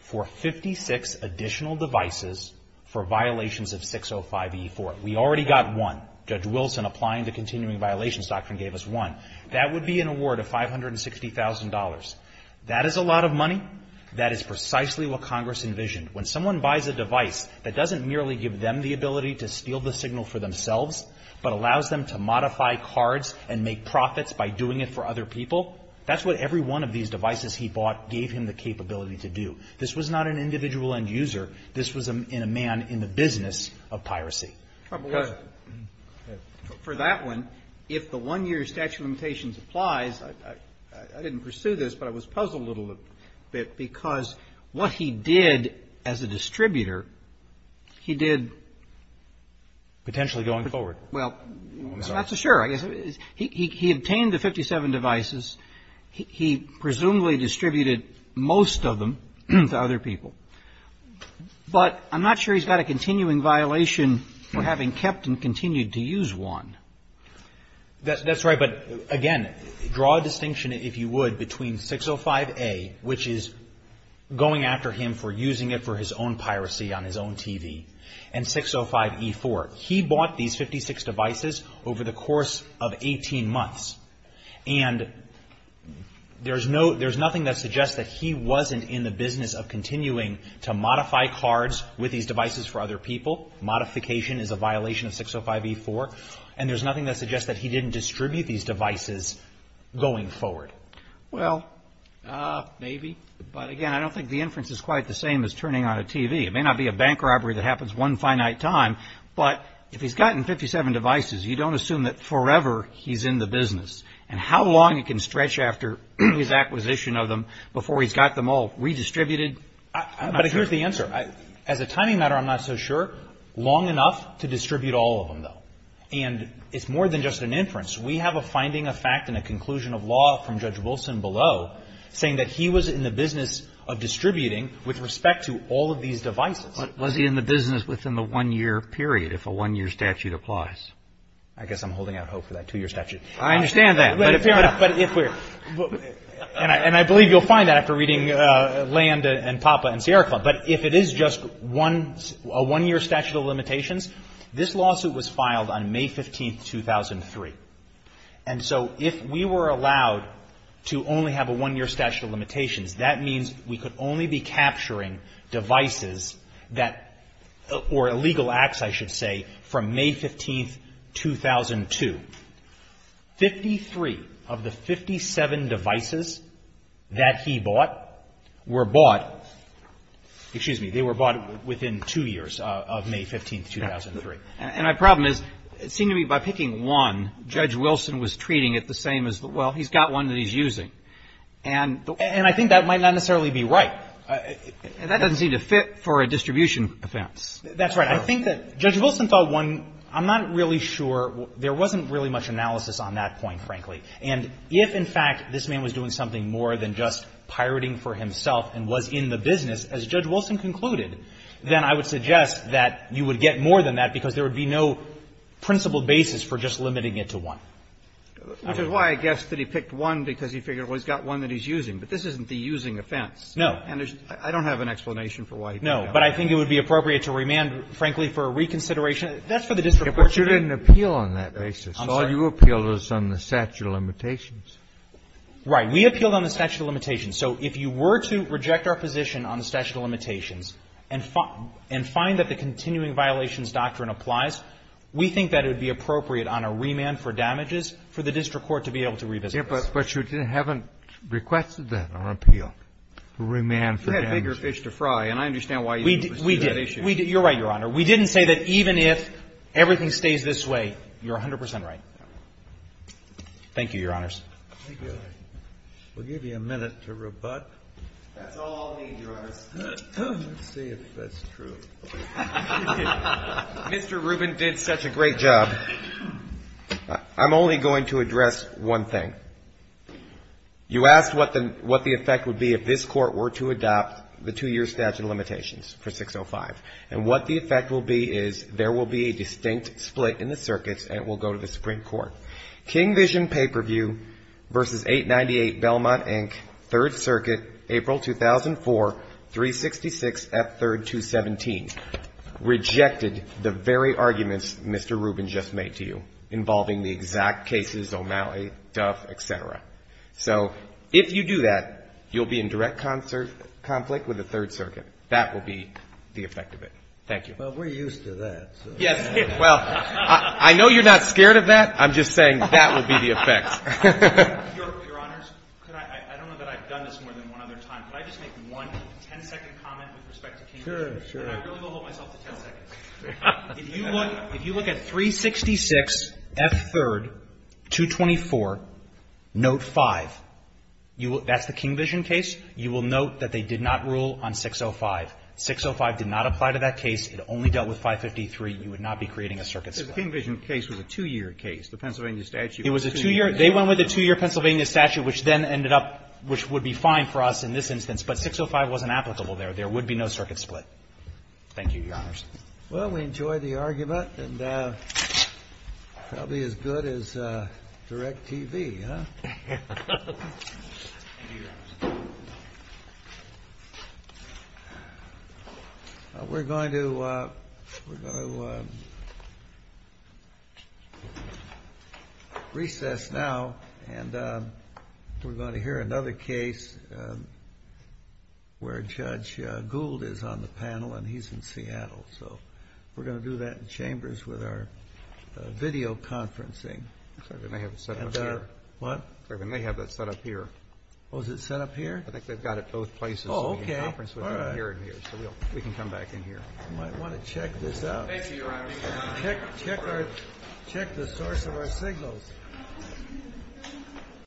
for 56 additional devices for violations of 605E4. We already got one. Judge Wilson, applying the continuing violations doctrine, gave us one. That would be an award of $560,000. That is a lot of money. That is precisely what Congress envisioned. When someone buys a device that doesn't merely give them the ability to steal the signal for themselves, but allows them to modify cards and make profits by doing it for other people, that's what every one of these devices he bought gave him the capability to do. This was not an individual end user. This was a man in the business of piracy. For that one, if the one-year statute of limitations applies, I didn't pursue this, but I was puzzled a little bit because what he did as a distributor, he did Potentially going forward. That's for sure. He obtained the 57 devices. He presumably distributed most of them to other people. But I'm not sure he's got a continuing violation for having kept and continued to use one. That's right. But again, draw a distinction, if you would, between 605A, which is going after him for using it for his own piracy on his own TV, and 605E4. He bought these 56 devices over the course of 18 months. And there's nothing that suggests that he wasn't in the business of continuing to modify cards with these devices for other people. Modification is a violation of the statute of limitations. So it doesn't suggest that he didn't distribute these devices going forward. Well, maybe. But again, I don't think the inference is quite the same as turning on a TV. It may not be a bank robbery that happens one finite time, but if he's gotten 57 devices, you don't assume that forever he's in the business. And how long it can stretch after his acquisition of them before he's got them all redistributed? But here's the answer. As a timing matter, I'm not so sure. Long enough to distribute all of them, though. And it's more than just an inference. We have a finding, a fact, and a conclusion of law from Judge Wilson below saying that he was in the business of distributing with respect to all of these devices. But was he in the business within the one-year period if a one-year statute applies? I guess I'm holding out hope for that two-year statute. I understand that. But if you're not, but if we're, and I believe you'll find that after reading Land and Papa and Sierra Club, but if it is just a one-year statute of limitations, this lawsuit was filed on May 15, 2003. And so if we were allowed to only have a one-year statute of limitations, that means we could only be capturing devices that or illegal acts, I should say, from May 15, 2002. Fifty-three of the 57 devices that he bought were bought within two years of May 15, 2003. And my problem is, it seemed to me by picking one, Judge Wilson was treating it the same as, well, he's got one that he's using. And I think that might not necessarily be right. And that doesn't seem to fit for a distribution offense. That's right. I think that Judge Wilson thought one, I'm not really sure, there wasn't really much analysis on that point, frankly. And if, in fact, this man was doing something more than just pirating for himself and was in the business, as Judge Wilson concluded, then I would suggest that you would get more than that because there would be no principled basis for just limiting it to one. Which is why I guessed that he picked one because he figured, well, he's got one that he's using. But this isn't the using offense. No. And I don't have an explanation for why he picked one. No. But I think it would be appropriate to remand, frankly, for a reconsideration. That's for the district court to do. But you didn't appeal on that basis. I'm sorry. All you appealed was on the statute of limitations. Right. We appealed on the statute of limitations. So if you were to reject our position on the statute of limitations and find that the continuing violations doctrine applies, we think that it would be appropriate on a remand for damages for the district court to be able to revisit this. But you haven't requested that on an appeal, a remand for damages. You had bigger fish to fry, and I understand why you didn't pursue that issue. You're right, Your Honor. We didn't say that even if everything stays this way, you're 100 percent right. Thank you, Your Honors. We'll give you a minute to rebut. That's all I'll need, Your Honor. Let's see if that's true. Mr. Rubin did such a great job. I'm only going to address one thing. You asked what the effect would be if this Court were to adopt the two-year statute of limitations for 605. And what the effect will be is there will be a distinct split in the circuits, and it will go to the Supreme Court. King Vision Pay-Per-View versus 898 Belmont, Inc., Third Circuit, April 2004, 366, F. 3rd, 217, rejected the very arguments Mr. Rubin just made to you involving the exact cases, O'Malley, Duff, et cetera. So if you do that, you'll be in direct conflict with the Third Circuit. That will be the effect of it. Thank you. Well, we're used to that. Yes. Well, I know you're not scared of that. I'm just saying that will be the effect. Your Honors, I don't know that I've done this more than one other time. Can I just make one 10-second comment with respect to King Vision? Sure. I really will hold myself to 10 seconds. If you look at 366, F. 3rd, 224, Note 5. That's the King Vision case. You will note that they did not rule on 605. 605 did not apply to that and you would not be creating a circuit split. The King Vision case was a two-year case. They went with a two-year Pennsylvania statute, which then ended up, which would be fine for us in this instance, but 605 wasn't applicable there. There would be no circuit split. Thank you, Your Honors. Well, we enjoyed the argument and probably as good as direct TV, huh? We're going to recess now and we're going to hear another case where Judge Gould is on the panel and he's in Seattle. We're going to do that in chambers with our video conferencing. We may have it set up here. What? I think they've got it both places. Oh, okay. We can come back in here. Check the source of our signals.